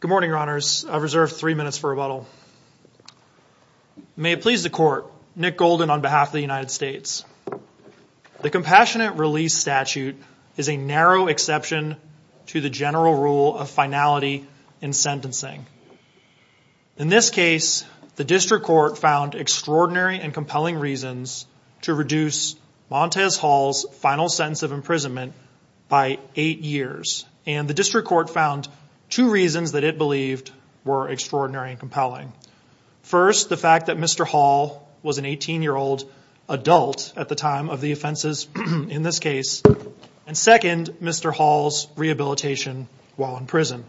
Good morning, your honors. I've reserved three minutes for rebuttal. May it please the court, Nick Golden on behalf of the United States. The compassionate release statute is a narrow exception to the general rule of finality in sentencing. In this case, the district court found extraordinary and compelling reasons to reduce Montez Hall's final sentence of imprisonment by eight years, and the district court found two reasons that it believed were extraordinary and First, the fact that Mr. Hall was an 18-year-old adult at the time of the offenses in this case, and second, Mr. Hall's rehabilitation while in prison.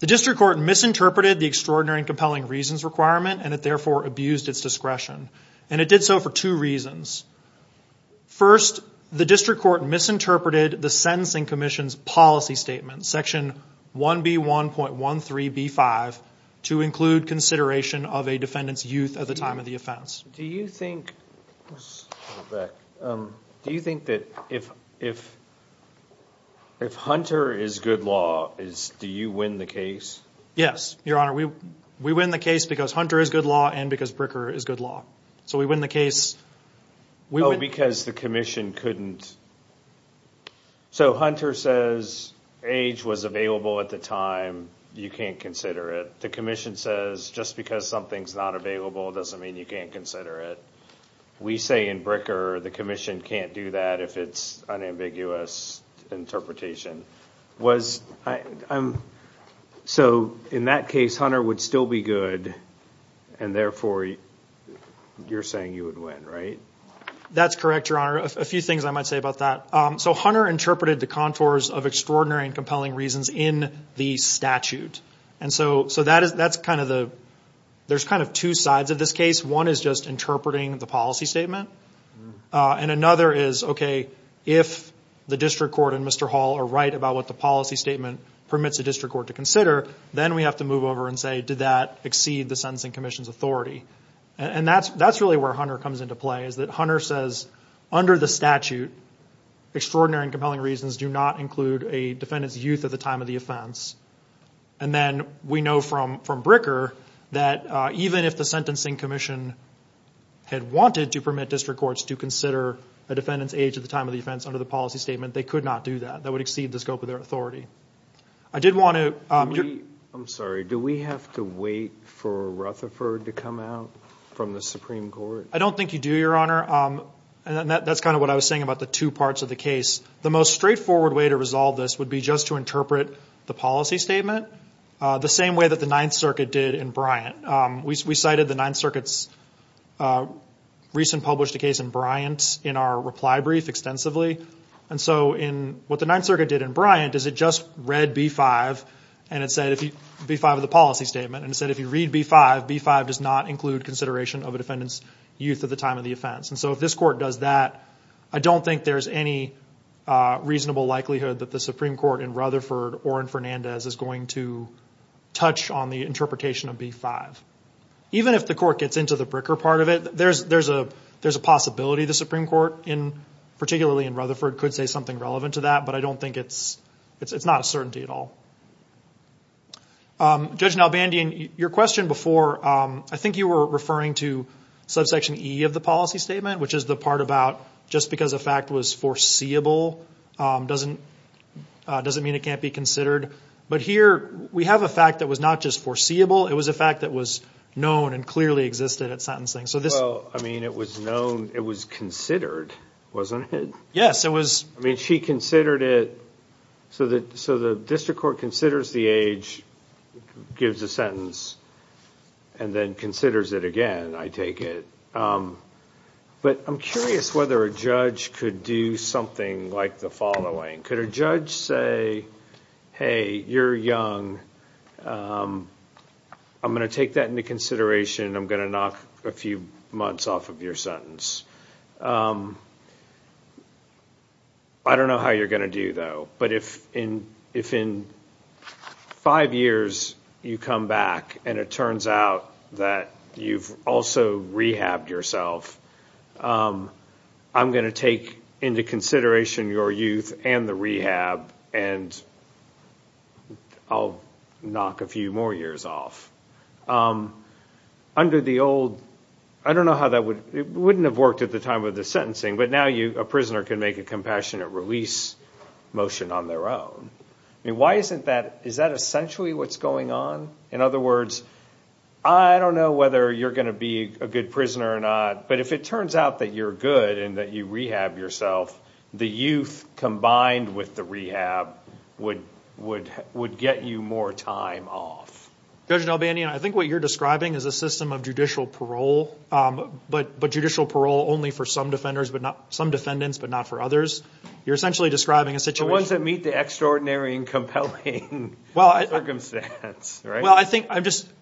The district court misinterpreted the extraordinary and compelling reasons requirement and it therefore abused its discretion, and it did so for two reasons. First, the district court misinterpreted the sentencing commission's policy section 1B1.13B5 to include consideration of a defendant's youth at the time of the offense. Do you think that if Hunter is good law, do you win the case? Yes, your honor. We win the case because Hunter is good law and because Bricker is good law. So we win the case. Oh, because the commission couldn't... So Hunter says age was available at the time, you can't consider it. The commission says just because something's not available doesn't mean you can't consider it. We say in Bricker the commission can't do that if it's an ambiguous interpretation. So in that case, Hunter would still be good and therefore you're saying you would win, right? That's correct, your honor. A few things I might say about that. So Hunter interpreted the contours of extraordinary and compelling reasons in the statute, and so that's kind of the... There's kind of two sides of this case. One is just interpreting the policy statement, and another is, okay, if the district court and Mr. Hall are right about what the policy statement permits the district court to consider, then we have to move over and say, did that exceed the commission's authority? And that's really where Hunter comes into play, is that Hunter says, under the statute, extraordinary and compelling reasons do not include a defendant's youth at the time of the offense. And then we know from Bricker that even if the sentencing commission had wanted to permit district courts to consider a defendant's age at the time of the offense under the policy statement, they could not do that. That would exceed the scope of their authority. I did want to... I'm sorry, do we have to wait for Rutherford to come out from the Supreme Court? I don't think you do, your honor. And that's kind of what I was saying about the two parts of the case. The most straightforward way to resolve this would be just to interpret the policy statement the same way that the Ninth Circuit did in Bryant. We cited the Ninth Circuit's recent published case in Bryant in our reply brief extensively. And so what the Ninth Circuit did in Bryant is it just read B-5 of the policy statement and said if you read B-5, B-5 does not include consideration of a defendant's youth at the time of the offense. And so if this court does that, I don't think there's any reasonable likelihood that the Supreme Court in Rutherford or in Fernandez is going to touch on the interpretation of B-5. Even if the court gets into the Bricker part of it, there's a possibility the Supreme Court, particularly in Rutherford, could say relevant to that. But I don't think it's not a certainty at all. Judge Nalbandian, your question before, I think you were referring to subsection E of the policy statement, which is the part about just because a fact was foreseeable doesn't mean it can't be considered. But here we have a fact that was not just foreseeable, it was a fact that was known and clearly existed at sentencing. Well, I mean it was known, it was considered, wasn't it? Yes, it was. I mean she considered it, so the district court considers the age, gives a sentence, and then considers it again, I take it. But I'm curious whether a judge could do something like the following. Could a judge say, hey, you're young, I'm going to take that into consideration, I'm going to knock a few months off of your sentence. I don't know how you're going to do though, but if in five years you come back and it turns out that you've also rehabbed yourself, I'm going to take into consideration your youth and the rehab and I'll knock a few more years off. Under the old, I don't know how that would, it wouldn't make a compassionate release motion on their own. I mean why isn't that, is that essentially what's going on? In other words, I don't know whether you're going to be a good prisoner or not, but if it turns out that you're good and that you rehab yourself, the youth combined with the rehab would get you more time off. Judge Nelbanian, I think what you're describing is a system of judicial parole, but judicial parole only for some defendants but not for others. You're essentially describing a situation... The ones that meet the extraordinary and compelling circumstance, right? Well, I think as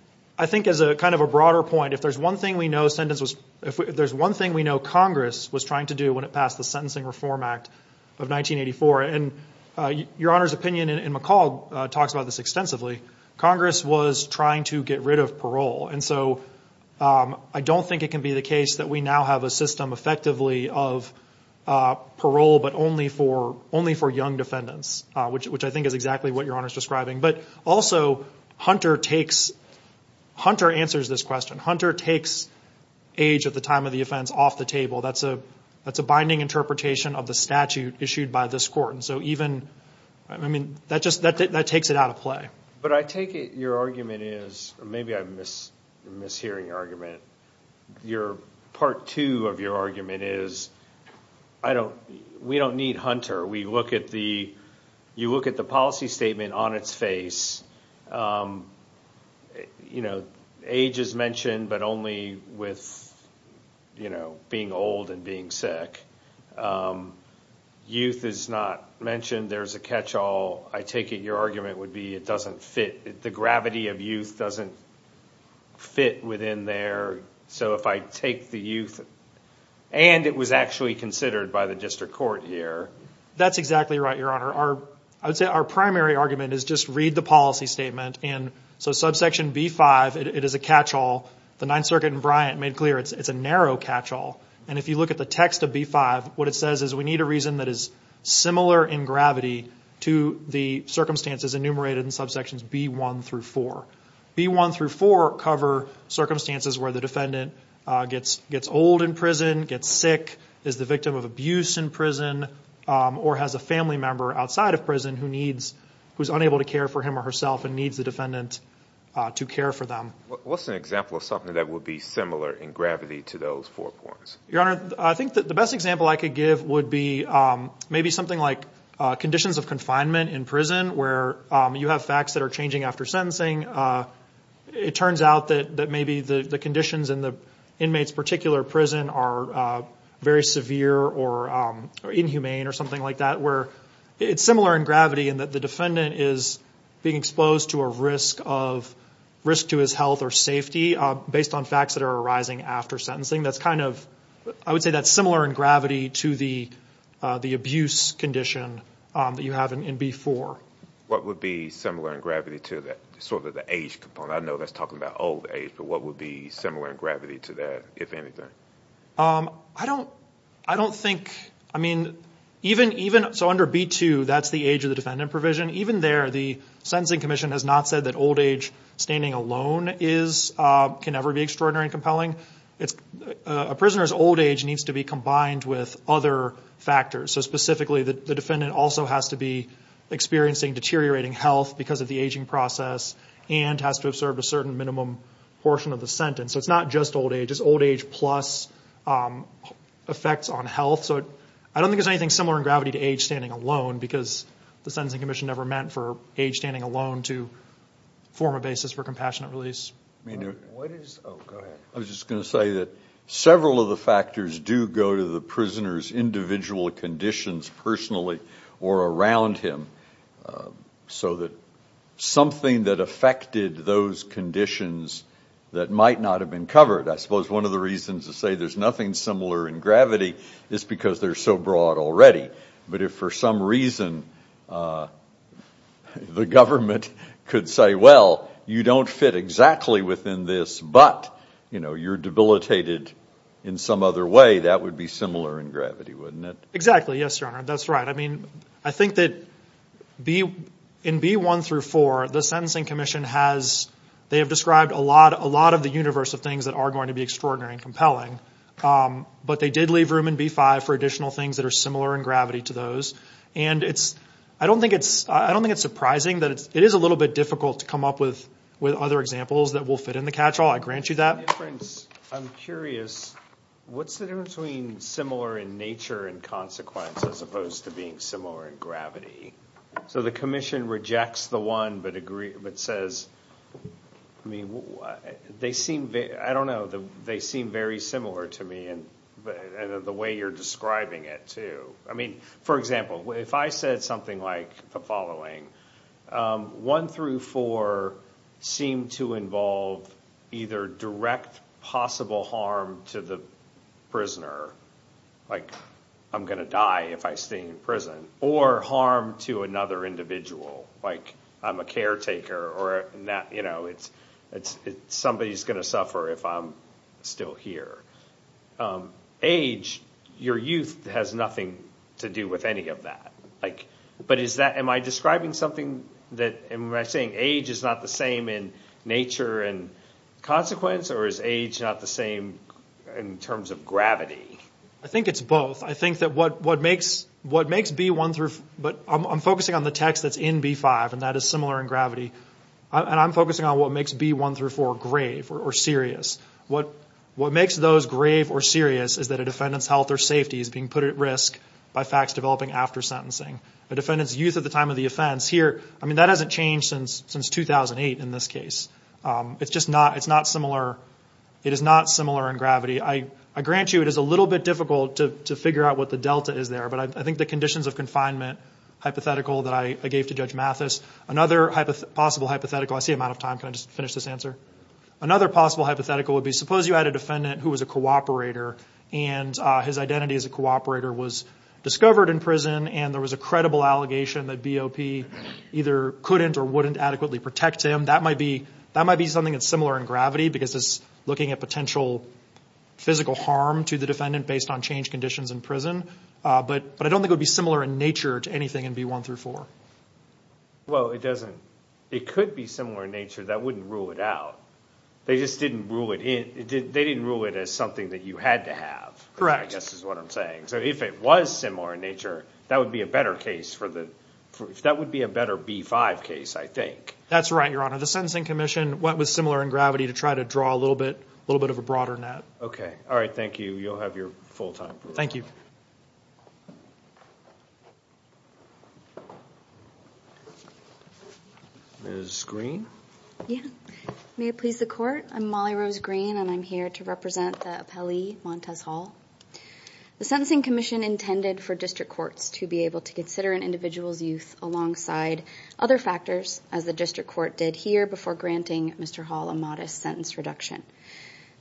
a kind of a broader point, if there's one thing we know Congress was trying to do when it passed the Sentencing Reform Act of 1984, and Your Honor's opinion in McCall talks about this extensively, Congress was trying to get rid of parole. And so I don't think it can be the case that we now have a system effectively of parole, but only for young defendants, which I think is exactly what Your Honor's describing. But also Hunter answers this question. Hunter takes age at the time of the offense off the table. That's a binding interpretation of the statute issued by this court. And so even, I mean, that takes it out of play. But I take it your argument is... Maybe I'm mishearing your argument. Part two of your argument is we don't need Hunter. You look at the policy statement on its face. Age is mentioned, but only with being old and being sick. Youth is not mentioned. There's a catch-all. I take it your argument would be it doesn't fit. The gravity of youth doesn't fit within there. So if I take the youth, and it was actually considered by the district court here. That's exactly right, Your Honor. I would say our primary argument is just read the policy statement. And so subsection B-5, it is a catch-all. The Ninth Circuit in Bryant made clear it's a narrow catch-all. And if you look at the text of B-5, what it says is we need a reason that is similar in gravity to the circumstances enumerated in subsections B-1 through 4. B-1 through 4 cover circumstances where the defendant gets old in prison, gets sick, is the victim of abuse in prison, or has a family member outside of prison who's unable to care for him or herself and needs the defendant to care for them. What's an example of something that would be similar in gravity to those four points? Your Honor, I think that the best example I could give would be maybe something like conditions of confinement in prison where you have facts that are changing after sentencing. It turns out that maybe the conditions in the inmate's particular prison are very severe or inhumane or something like that, where it's similar in gravity in that the defendant is being exposed to a risk to his health or safety based on facts that are arising after sentencing. I would say that's similar in gravity to the abuse condition that you have in B-4. What would be similar in gravity to that sort of the age component? I know that's talking about old age, but what would be similar in gravity to that, if anything? Under B-2, that's the age of the defendant provision. Even there, the Sentencing Commission has not said that old age standing alone can ever be extraordinary and compelling. A prisoner's old age needs to be combined with other factors. Specifically, the defendant also has to be experiencing deteriorating health because of the aging process and has to have served a certain minimum portion of the sentence. It's not just old age. It's old age plus effects on health. I don't think there's anything similar in gravity to age standing alone because the Sentencing Commission never meant for age standing alone to form a basis for compassionate treatment. I was just going to say that several of the factors do go to the prisoner's individual conditions personally or around him. Something that affected those conditions that might not have been covered. I suppose one of the reasons to say there's nothing similar in gravity is because they're so broad already. If for some reason the government could say, you don't fit exactly within this, but you're debilitated in some other way, that would be similar in gravity, wouldn't it? Exactly. Yes, Your Honor. That's right. I think that in B-1 through 4, the Sentencing Commission has described a lot of the universe of things that are going to be extraordinary and compelling, but they did leave room in B-5 for additional things that are similar in gravity to those. I don't think it's surprising that it is a little bit difficult to come up with other examples that will fit in the catch-all. I grant you that. I'm curious, what's the difference between similar in nature and consequence as opposed to being similar in gravity? The Commission rejects the one but says, I don't know, they seem very similar to me and the way you're describing it too. For example, if I said the following, 1 through 4 seem to involve either direct possible harm to the prisoner, like I'm going to die if I stay in prison, or harm to another individual, like I'm a caretaker or somebody's going to suffer if I'm still here. Age, your youth has nothing to do with any of that. Am I describing something that age is not the same in nature and consequence, or is age not the same in terms of gravity? I think it's both. I'm focusing on the text that's in B-5 and that is similar in gravity, and I'm focusing on what makes B-1 through 4 grave or serious. What makes those grave or serious is that a defendant's health or safety is being put at risk by facts developing after sentencing. A defendant's youth at the time of the offense here, that hasn't changed since 2008 in this case. It is not similar in gravity. I grant you it is a little bit difficult to figure out what the delta is there, but I think the conditions of confinement hypothetical that I gave to Judge Mathis, another possible hypothetical, I see I'm out of time, can I just finish this answer? Another possible hypothetical would be, suppose you had a defendant who was a cooperator and his identity as a cooperator was discovered in prison and there was a credible allegation that BOP either couldn't or wouldn't adequately protect him. That might be something that's similar in gravity because it's looking at potential physical harm to the defendant based on changed conditions in prison, but I don't think it would be similar in nature to anything in B-1 through 4. Well, it doesn't. It could be similar in nature. That wouldn't rule it out. They just didn't rule it in. They didn't rule it as something that you had to have. Correct. I guess is what I'm saying. So if it was similar in nature, that would be a better case for the, that would be a better B-5 case, I think. That's right, Your Honor. The Sentencing Commission went with similar in gravity to try to draw a little bit, a little bit of a broader net. Okay. All right. Thank you. You'll have your full time. Thank you. Ms. Green? Yeah. May it please the court. I'm Molly Rose Green and I'm here to represent the appellee Montez Hall. The Sentencing Commission intended for district courts to be able to consider an individual's youth alongside other factors as the district court did here before granting Mr. Hall a modest sentence reduction.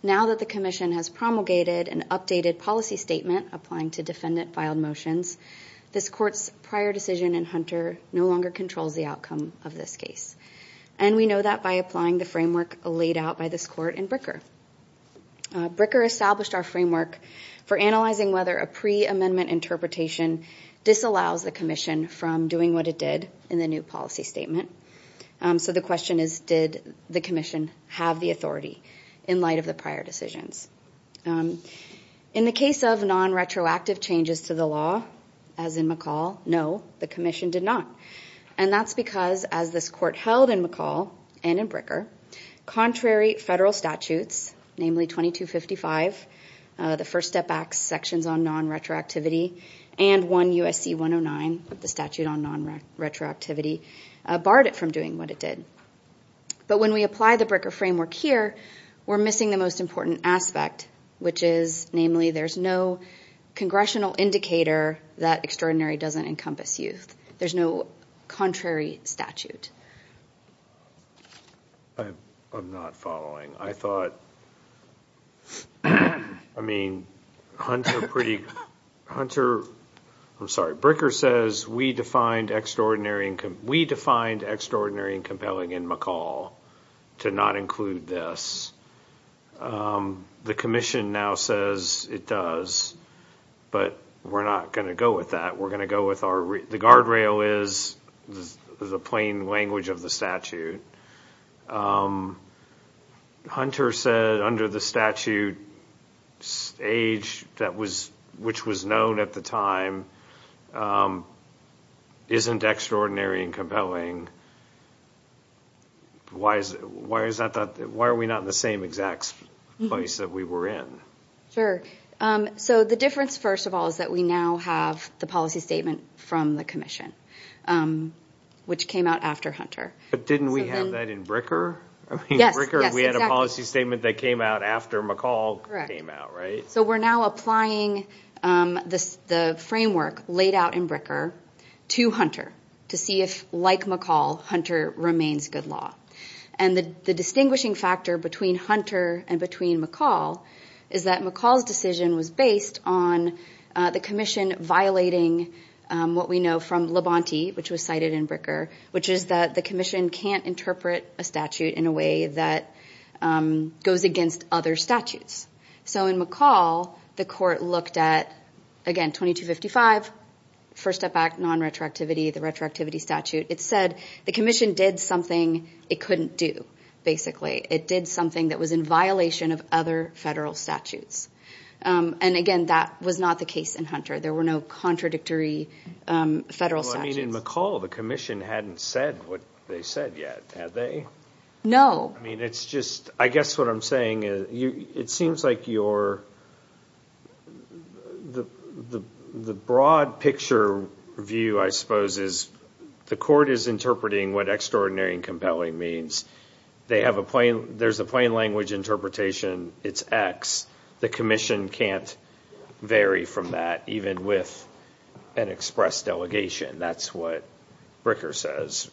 Now that the commission has promulgated an updated policy statement applying to defendant filed motions, this court's prior decision in Hunter no longer controls the outcome of this case. And we know that by applying the framework laid out by this court in Bricker. Bricker established our framework for analyzing whether a pre-amendment interpretation disallows the commission from doing what it did in the new policy statement. So the question is, did the commission have the authority in light of the prior decisions? In the case of non-retroactive changes to the law, as in McCall, no, the commission did not. And that's because as this court held in McCall and in Bricker, contrary federal statutes, namely 2255, the First Step Act sections on non-retroactivity, and 1 USC 109, the statute on non-retroactivity, barred it from doing what it did. But when we apply the Bricker framework here, we're missing the most important aspect, which is, namely, there's no congressional indicator that extraordinary doesn't encompass youth. There's no contrary statute. I'm not following. I thought, I mean, Hunter pretty, Hunter, I'm sorry, Bricker says we defined extraordinary and compelling in McCall to not include this. The commission now says it does, but we're not going to go with that. We're going to go with our, the guardrail is the plain language of the statute. Hunter said under the statute stage that was, which was known at the time, isn't extraordinary and compelling. Why is that? Why are we not in the same exact place that we were in? Sure. So the difference, first of all, is that we now have the policy statement from the commission, which came out after Hunter. But didn't we have that in Bricker? Yes, exactly. We had a policy statement that came out after McCall came out, right? So we're now applying the framework laid out in Bricker to Hunter to see if, like McCall, Hunter remains good law. And the distinguishing factor between Hunter and between McCall is that McCall's decision was based on the commission violating what we know from Labonte, which was cited in Bricker, which is that the commission can't interpret a statute in a way that goes against other statutes. So in McCall, the court looked at, again, 2255, first step back, non-retroactivity, the retroactivity statute. It said the commission did something it couldn't do, basically. It did something that was in violation of other federal statutes. And again, that was not the case in Hunter. There were no contradictory federal statutes. Well, I mean, in McCall, the commission hadn't said what they said yet, had they? No. I mean, it's just, I guess what I'm saying is, it seems like the broad picture view, I suppose, is the court is interpreting what extraordinary and compelling means. There's a plain language interpretation. It's X. The commission can't vary from that, even with an express delegation. That's what Bricker says.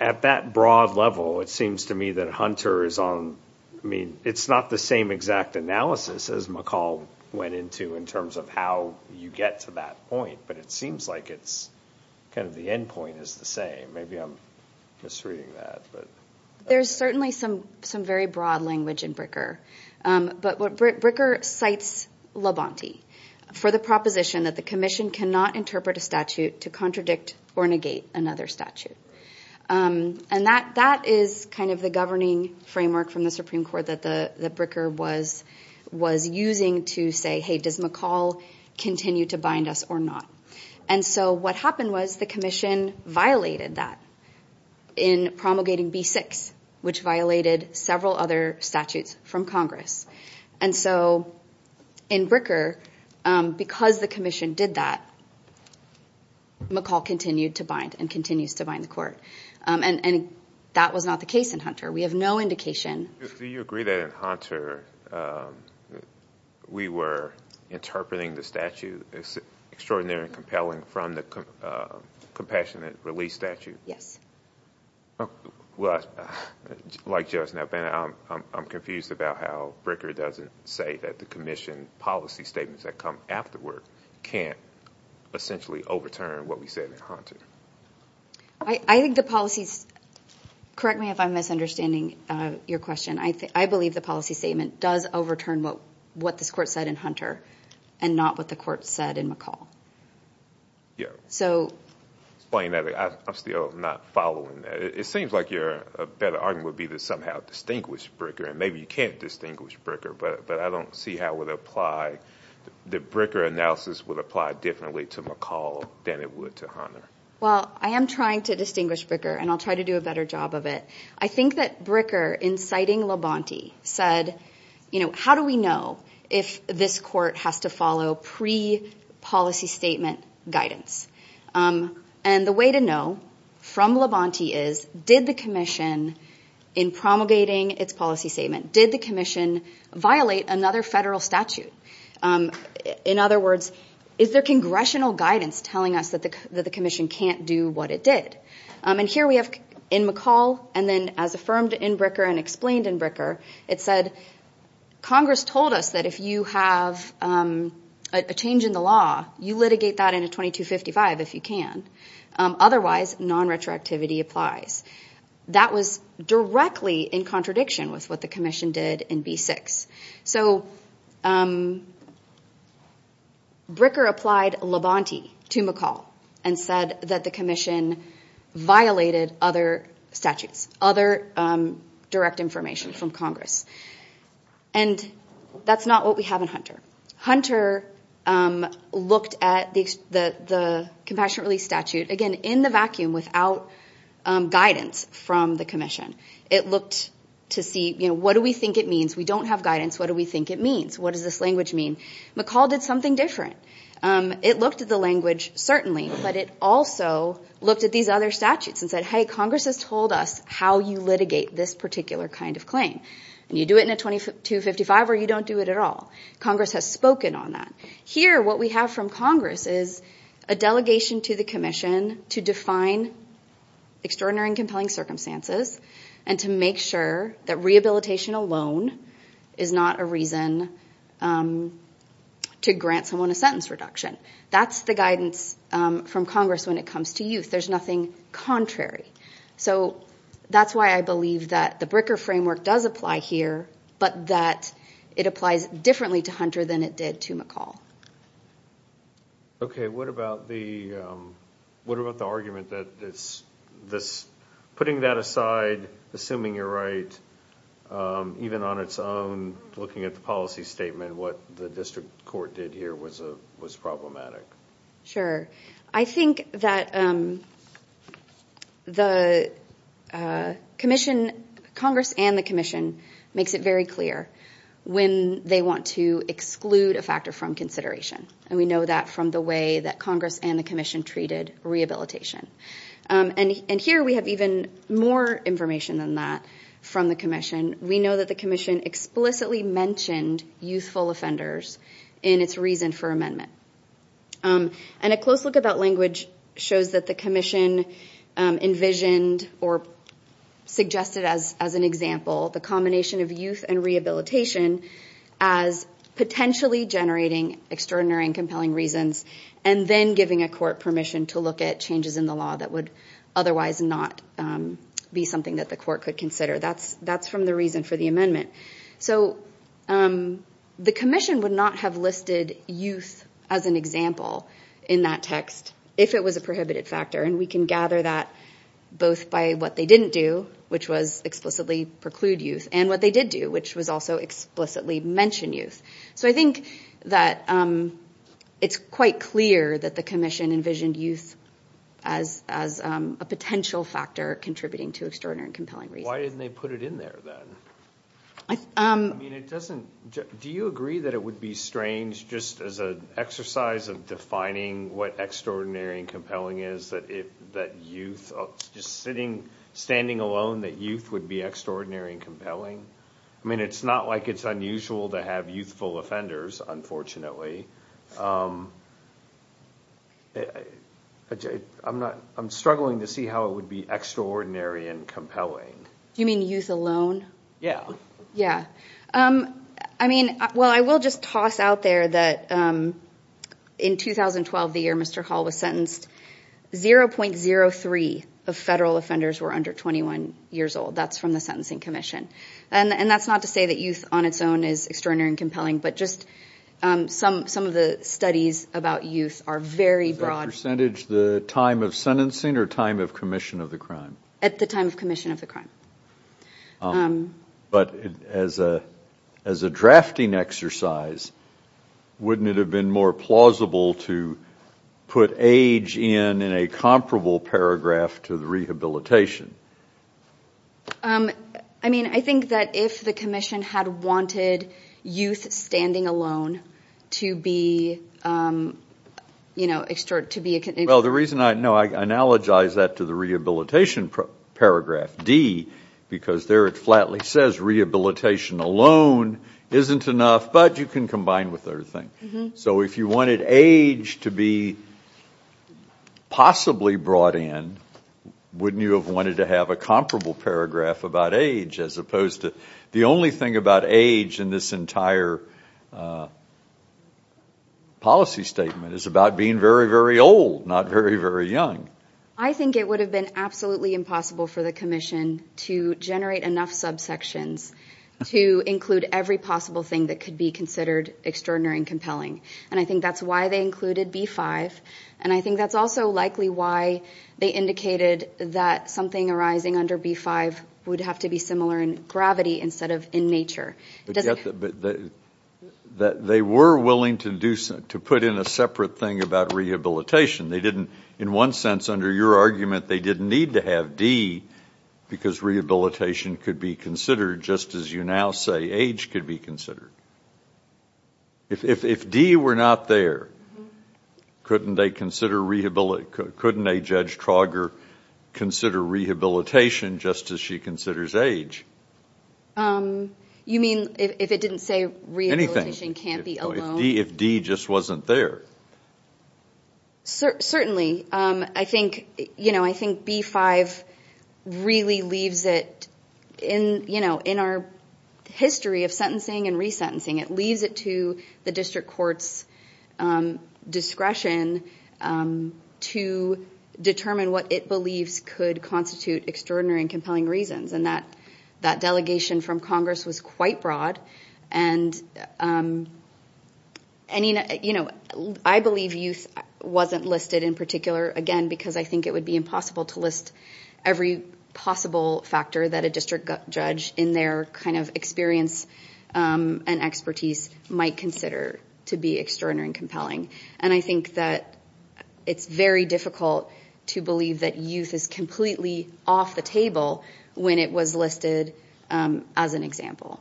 At that broad level, it seems to me that Hunter is on, I mean, it's not the same exact analysis as McCall went into in terms of how you get to that point, but it seems like it's kind of the end point is the same. Maybe I'm misreading that. There's certainly some very broad language in Bricker, but Bricker cites Labonte for the proposition that the commission cannot interpret a statute to contradict or negate another statute. And that is kind of the governing framework from the Supreme Court that the Bricker was using to say, hey, does McCall continue to bind us or not? And so what happened was the commission violated that in promulgating B-6, which violated several other statutes from Congress. And so in Bricker, because the commission did that, McCall continued to bind and continues to bind the court. And that was not the case in Hunter. We have no indication. Do you agree that in Hunter, that we were interpreting the statute as extraordinary and compelling from the compassionate release statute? Yes. Like just now, Ben, I'm confused about how Bricker doesn't say that the commission policy statements that come afterward can't essentially overturn what we said in Hunter. I think the policies, correct me if I'm misunderstanding your question. I believe the policy statement does overturn what this court said in Hunter and not what the court said in McCall. Explain that. I'm still not following that. It seems like a better argument would be to somehow distinguish Bricker, and maybe you can't distinguish Bricker, but I don't see how the Bricker analysis would apply differently to McCall than it would to Hunter. Well, I am trying to distinguish Bricker, and I'll try to do a better job of it. I think that Bricker, inciting Labonte, said, how do we know if this court has to follow pre-policy statement guidance? And the way to know from Labonte is, did the commission, in promulgating its policy statement, did the commission violate another federal statute? In other words, is there congressional guidance telling us that the commission can't do what it did? And here we have in McCall, and then as affirmed in Bricker and explained in Bricker, it said, Congress told us that if you have a change in the law, you litigate that in a 2255 if you can. Otherwise, non-retroactivity applies. That was directly in contradiction with what the violated other statutes, other direct information from Congress. And that's not what we have in Hunter. Hunter looked at the Compassionate Relief Statute, again, in the vacuum, without guidance from the commission. It looked to see, what do we think it means? We don't have guidance. What do we think it means? What does this language mean? McCall did something different. It looked at the language, certainly, but it also looked at these other statutes and said, hey, Congress has told us how you litigate this particular kind of claim. And you do it in a 2255 or you don't do it at all. Congress has spoken on that. Here, what we have from Congress is a delegation to the commission to define extraordinary and compelling circumstances and to make sure that rehabilitation alone is not a reason to grant someone a sentence reduction. That's the guidance from Congress when it comes to youth. There's nothing contrary. So that's why I believe that the Bricker framework does apply here, but that it applies differently to Hunter than it did to McCall. Okay. What about the argument that putting that aside, assuming you're right, even on its own, looking at the policy statement, what the district court did here was problematic? Sure. I think that Congress and the commission makes it very clear when they want to exclude a factor from consideration. We know that from the way that Congress and the commission treated rehabilitation. And here we have even more information than that from the commission. We know that the commission explicitly mentioned youthful offenders in its reason for amendment. And a close look about language shows that the commission envisioned or suggested as an example, the combination of youth and rehabilitation as potentially generating extraordinary and compelling reasons, and then giving a court permission to look at changes in the law that would otherwise not be something that the court could consider. That's from the reason for the amendment. So the commission would not have listed youth as an example in that text if it was a prohibited factor. And we can gather that both by what they didn't do, which was explicitly preclude youth, and what they did do, which was also explicitly mention youth. So I think that it's quite clear that the commission envisioned youth as a potential factor contributing to extraordinary and compelling reasons. Why didn't they put it in there then? Do you agree that it would be strange just as an exercise of defining what extraordinary and compelling is that youth, just standing alone that youth would be extraordinary and compelling? I mean, it's not like it's unusual to have youthful offenders, unfortunately. I'm struggling to see how it would be extraordinary and compelling. Do you mean youth alone? Yeah. Yeah. I mean, well, I will just toss out there that in 2012, the year Mr. Hall was sentenced, 0.03 of federal offenders were under 21 years old. That's from the sentencing commission. And that's not to say that youth on its own is extraordinary and compelling, but just some of the studies about youth are very broad. Is that percentage the time of sentencing or time of commission of the crime? At the time of commission of the crime. But as a drafting exercise, wouldn't it have been more plausible to put age in in a comparable paragraph to the rehabilitation? I mean, I think that if the commission had wanted youth standing alone to be, you know, to be... No, I analogize that to the rehabilitation paragraph, D, because there it flatly says rehabilitation alone isn't enough, but you can combine with other things. So if you wanted age to be possibly brought in, wouldn't you have wanted to have a comparable paragraph about age as opposed to... The only thing about age in this entire policy statement is about being very, very old, not very, very young. I think it would have been absolutely impossible for the commission to generate enough subsections to include every possible thing that could be considered extraordinary and compelling. And I think that's why they included B-5. And I think that's also likely why they indicated that something arising under B-5 would have to be similar in gravity instead of in nature. But they were willing to put in a separate thing about rehabilitation. They didn't, in one sense, under your argument, they didn't need to have D because rehabilitation could be considered just as you now say age could be considered. If D were not there, couldn't they consider... Couldn't a Judge Trauger consider rehabilitation just as she considers age? Um, you mean if it didn't say rehabilitation can't be alone? If D just wasn't there. Certainly. I think B-5 really leaves it in our history of sentencing and resentencing. It leaves it to the district court's discretion to determine what it believes could constitute extraordinary and compelling reasons. And that delegation from Congress was quite broad. And I believe youth wasn't listed in particular, again, because I think it would be impossible to list every possible factor that a district judge in their kind of experience and expertise might consider to be extraordinary and compelling. And I think that it's very difficult to believe that youth is completely off the table when it was listed as an example.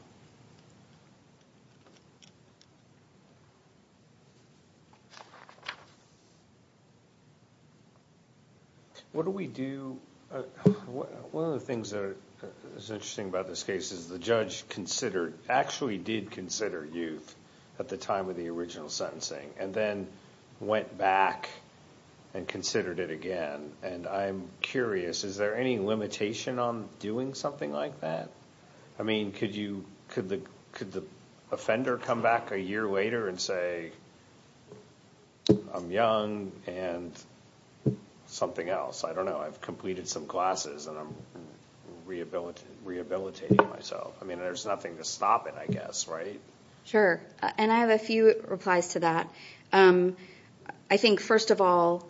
What do we do... One of the things that is interesting about this case is the judge considered, actually did consider youth at the time of the original sentencing and then went back and considered it again. And I'm curious, is there any limitation on doing something like that? I mean, could the offender come back a year later and say, I'm young and something else. I don't know. I've completed some classes and I'm rehabilitating myself. I mean, there's nothing to stop it, I guess, right? Sure. And I have a few replies to that. I think, first of all,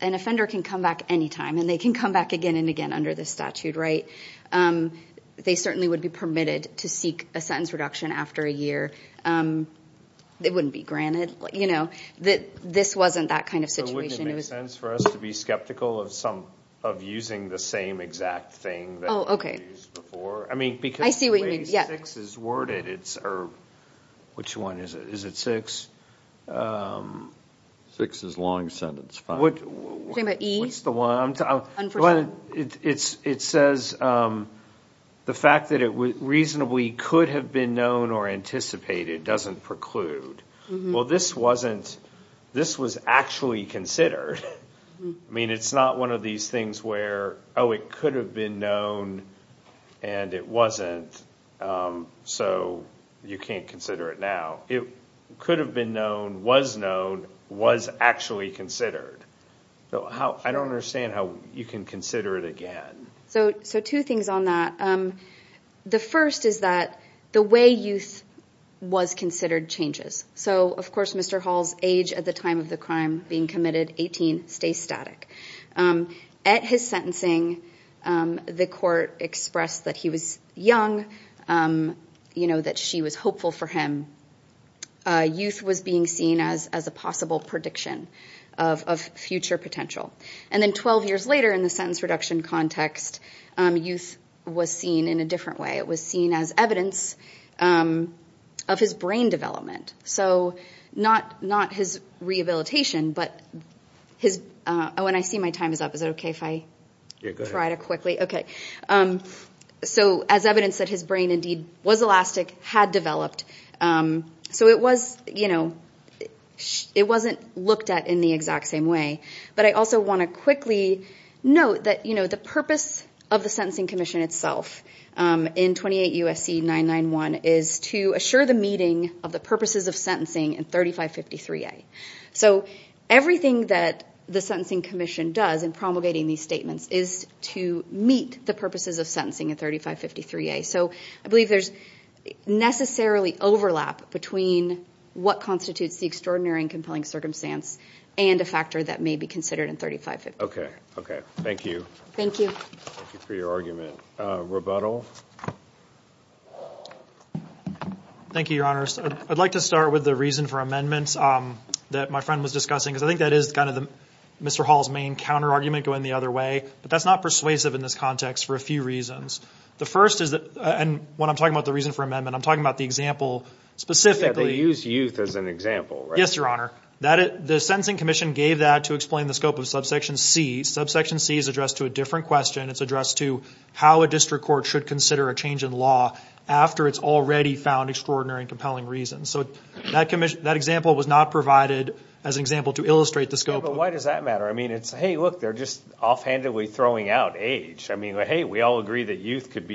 an offender can come back anytime and they can come back again and again under the statute, right? They certainly would be permitted to seek a sentence reduction after a year. It wouldn't be granted. This wasn't that kind of situation. Would it make sense for us to be skeptical of using the same exact thing that we used before? I see what you mean. Which one is it? Is it six? Six is long sentence. It says the fact that it reasonably could have been known or anticipated doesn't preclude. Well, this was actually considered. I mean, it's not one of these where, oh, it could have been known and it wasn't, so you can't consider it now. It could have been known, was known, was actually considered. I don't understand how you can consider it again. So two things on that. The first is that the way youth was considered changes. So, of course, Mr. Hall's age at the time of the crime being committed, 18, stays static. At his sentencing, the court expressed that he was young, that she was hopeful for him. Youth was being seen as a possible prediction of future potential. And then 12 years later in the sentence reduction context, youth was seen in a different way. It was seen as evidence of his brain development. So not his rehabilitation, but when I see my time is up, is it okay if I try to quickly? Okay. So as evidence that his brain indeed was elastic, had developed. So it wasn't looked at in the exact same way. But I also want to quickly note that the purpose of the Sentencing Commission itself in 28 U.S.C. 991 is to assure the meeting of the purposes of sentencing in 3553A. So everything that the Sentencing Commission does in promulgating these statements is to meet the purposes of sentencing in 3553A. So I believe there's necessarily overlap between what constitutes the extraordinary and compelling and a factor that may be considered in 3553A. Okay. Okay. Thank you. Thank you. Thank you for your argument. Rebuttal. Thank you, Your Honor. I'd like to start with the reason for amendments that my friend was discussing because I think that is kind of Mr. Hall's main counter argument going the other way. But that's not persuasive in this context for a few reasons. The first is, and when I'm talking about the reason for amendment, I'm talking about the example specifically. They use youth as an example, right? Yes, Your Honor. The Sentencing Commission gave that to explain the scope of subsection C. Subsection C is addressed to a different question. It's addressed to how a district court should consider a change in law after it's already found extraordinary and compelling reasons. So that example was not provided as an example to illustrate the scope. But why does that matter? I mean, it's, hey, look, they're just offhandedly throwing out age. I mean, hey, we all agree that youth could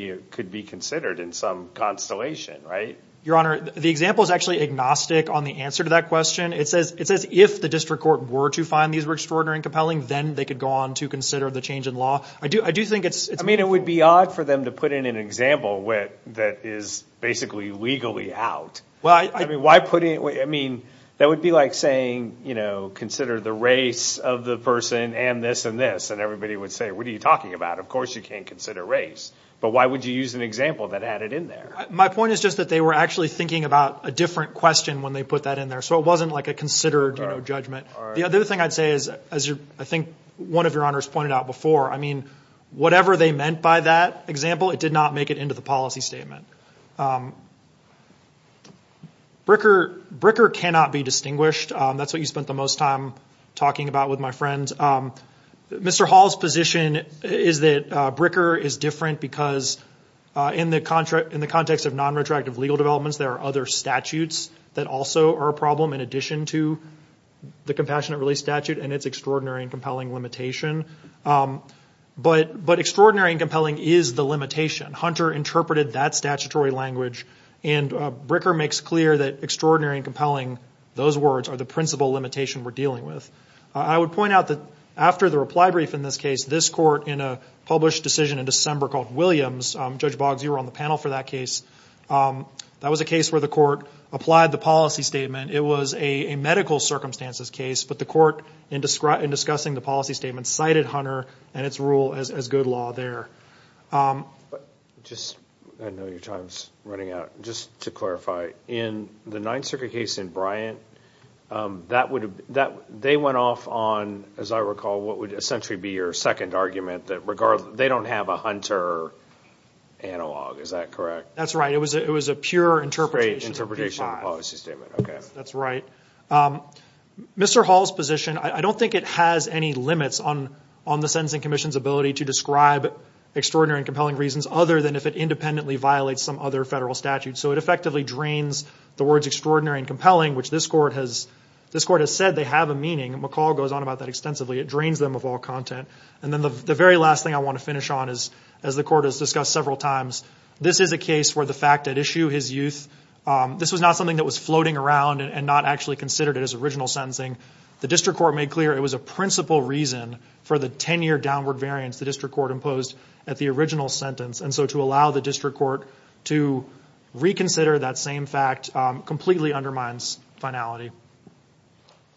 be considered in some constellation, right? Your Honor, the example is actually agnostic on the answer to that question. It says, if the district court were to find these were extraordinary and compelling, then they could go on to consider the change in law. I do think it's... I mean, it would be odd for them to put in an example that is basically legally out. Well, I... I mean, why put it... I mean, that would be like saying, you know, consider the race of the person and this and this. And everybody would say, what are you talking about? Of course, you can't consider race. But why would you use an example that added in there? My point is just that they were actually thinking about a different question when they put that in there. So it wasn't like a considered judgment. The other thing I'd say is, as I think one of your honors pointed out before, I mean, whatever they meant by that example, it did not make it into the policy statement. Bricker cannot be distinguished. That's what you spent the most time talking about with my friends. Mr. Hall's position is that Bricker is different because in the context of non-retractive legal developments, there are other statutes that also are a problem in addition to the Compassionate Release Statute and its extraordinary and compelling limitation. But extraordinary and compelling is the limitation. Hunter interpreted that statutory language and Bricker makes clear that extraordinary and compelling, those words are the principal limitation we're dealing with. I would point out that after the reply brief in this case, this court in a published decision in December called Williams, Judge Boggs, you were on the panel for that case. That was a case where the court applied the policy statement. It was a medical circumstances case, but the court in discussing the policy statement cited Hunter and its rule as good law there. I know your time's running out. Just to clarify, in the Ninth Circuit case in Bryant, they went off on, as I recall, what would essentially be your second argument, that they don't have a Hunter analog. Is that correct? That's right. It was a pure interpretation of the policy statement. Mr. Hall's position, I don't think it has any limits on the Sentencing Commission's ability to describe extraordinary and compelling reasons other than if it independently violates some other statute. It effectively drains the words extraordinary and compelling, which this court has said they have a meaning. McCall goes on about that extensively. It drains them of all content. Then the very last thing I want to finish on is, as the court has discussed several times, this is a case where the fact that issue his youth, this was not something that was floating around and not actually considered it as original sentencing. The district court made clear it was a principal reason for the 10-year downward variance the district court imposed at the reconsider. That same fact completely undermines finality.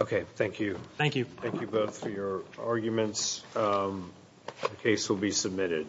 Okay. Thank you. Thank you. Thank you both for your arguments. The case will be submitted.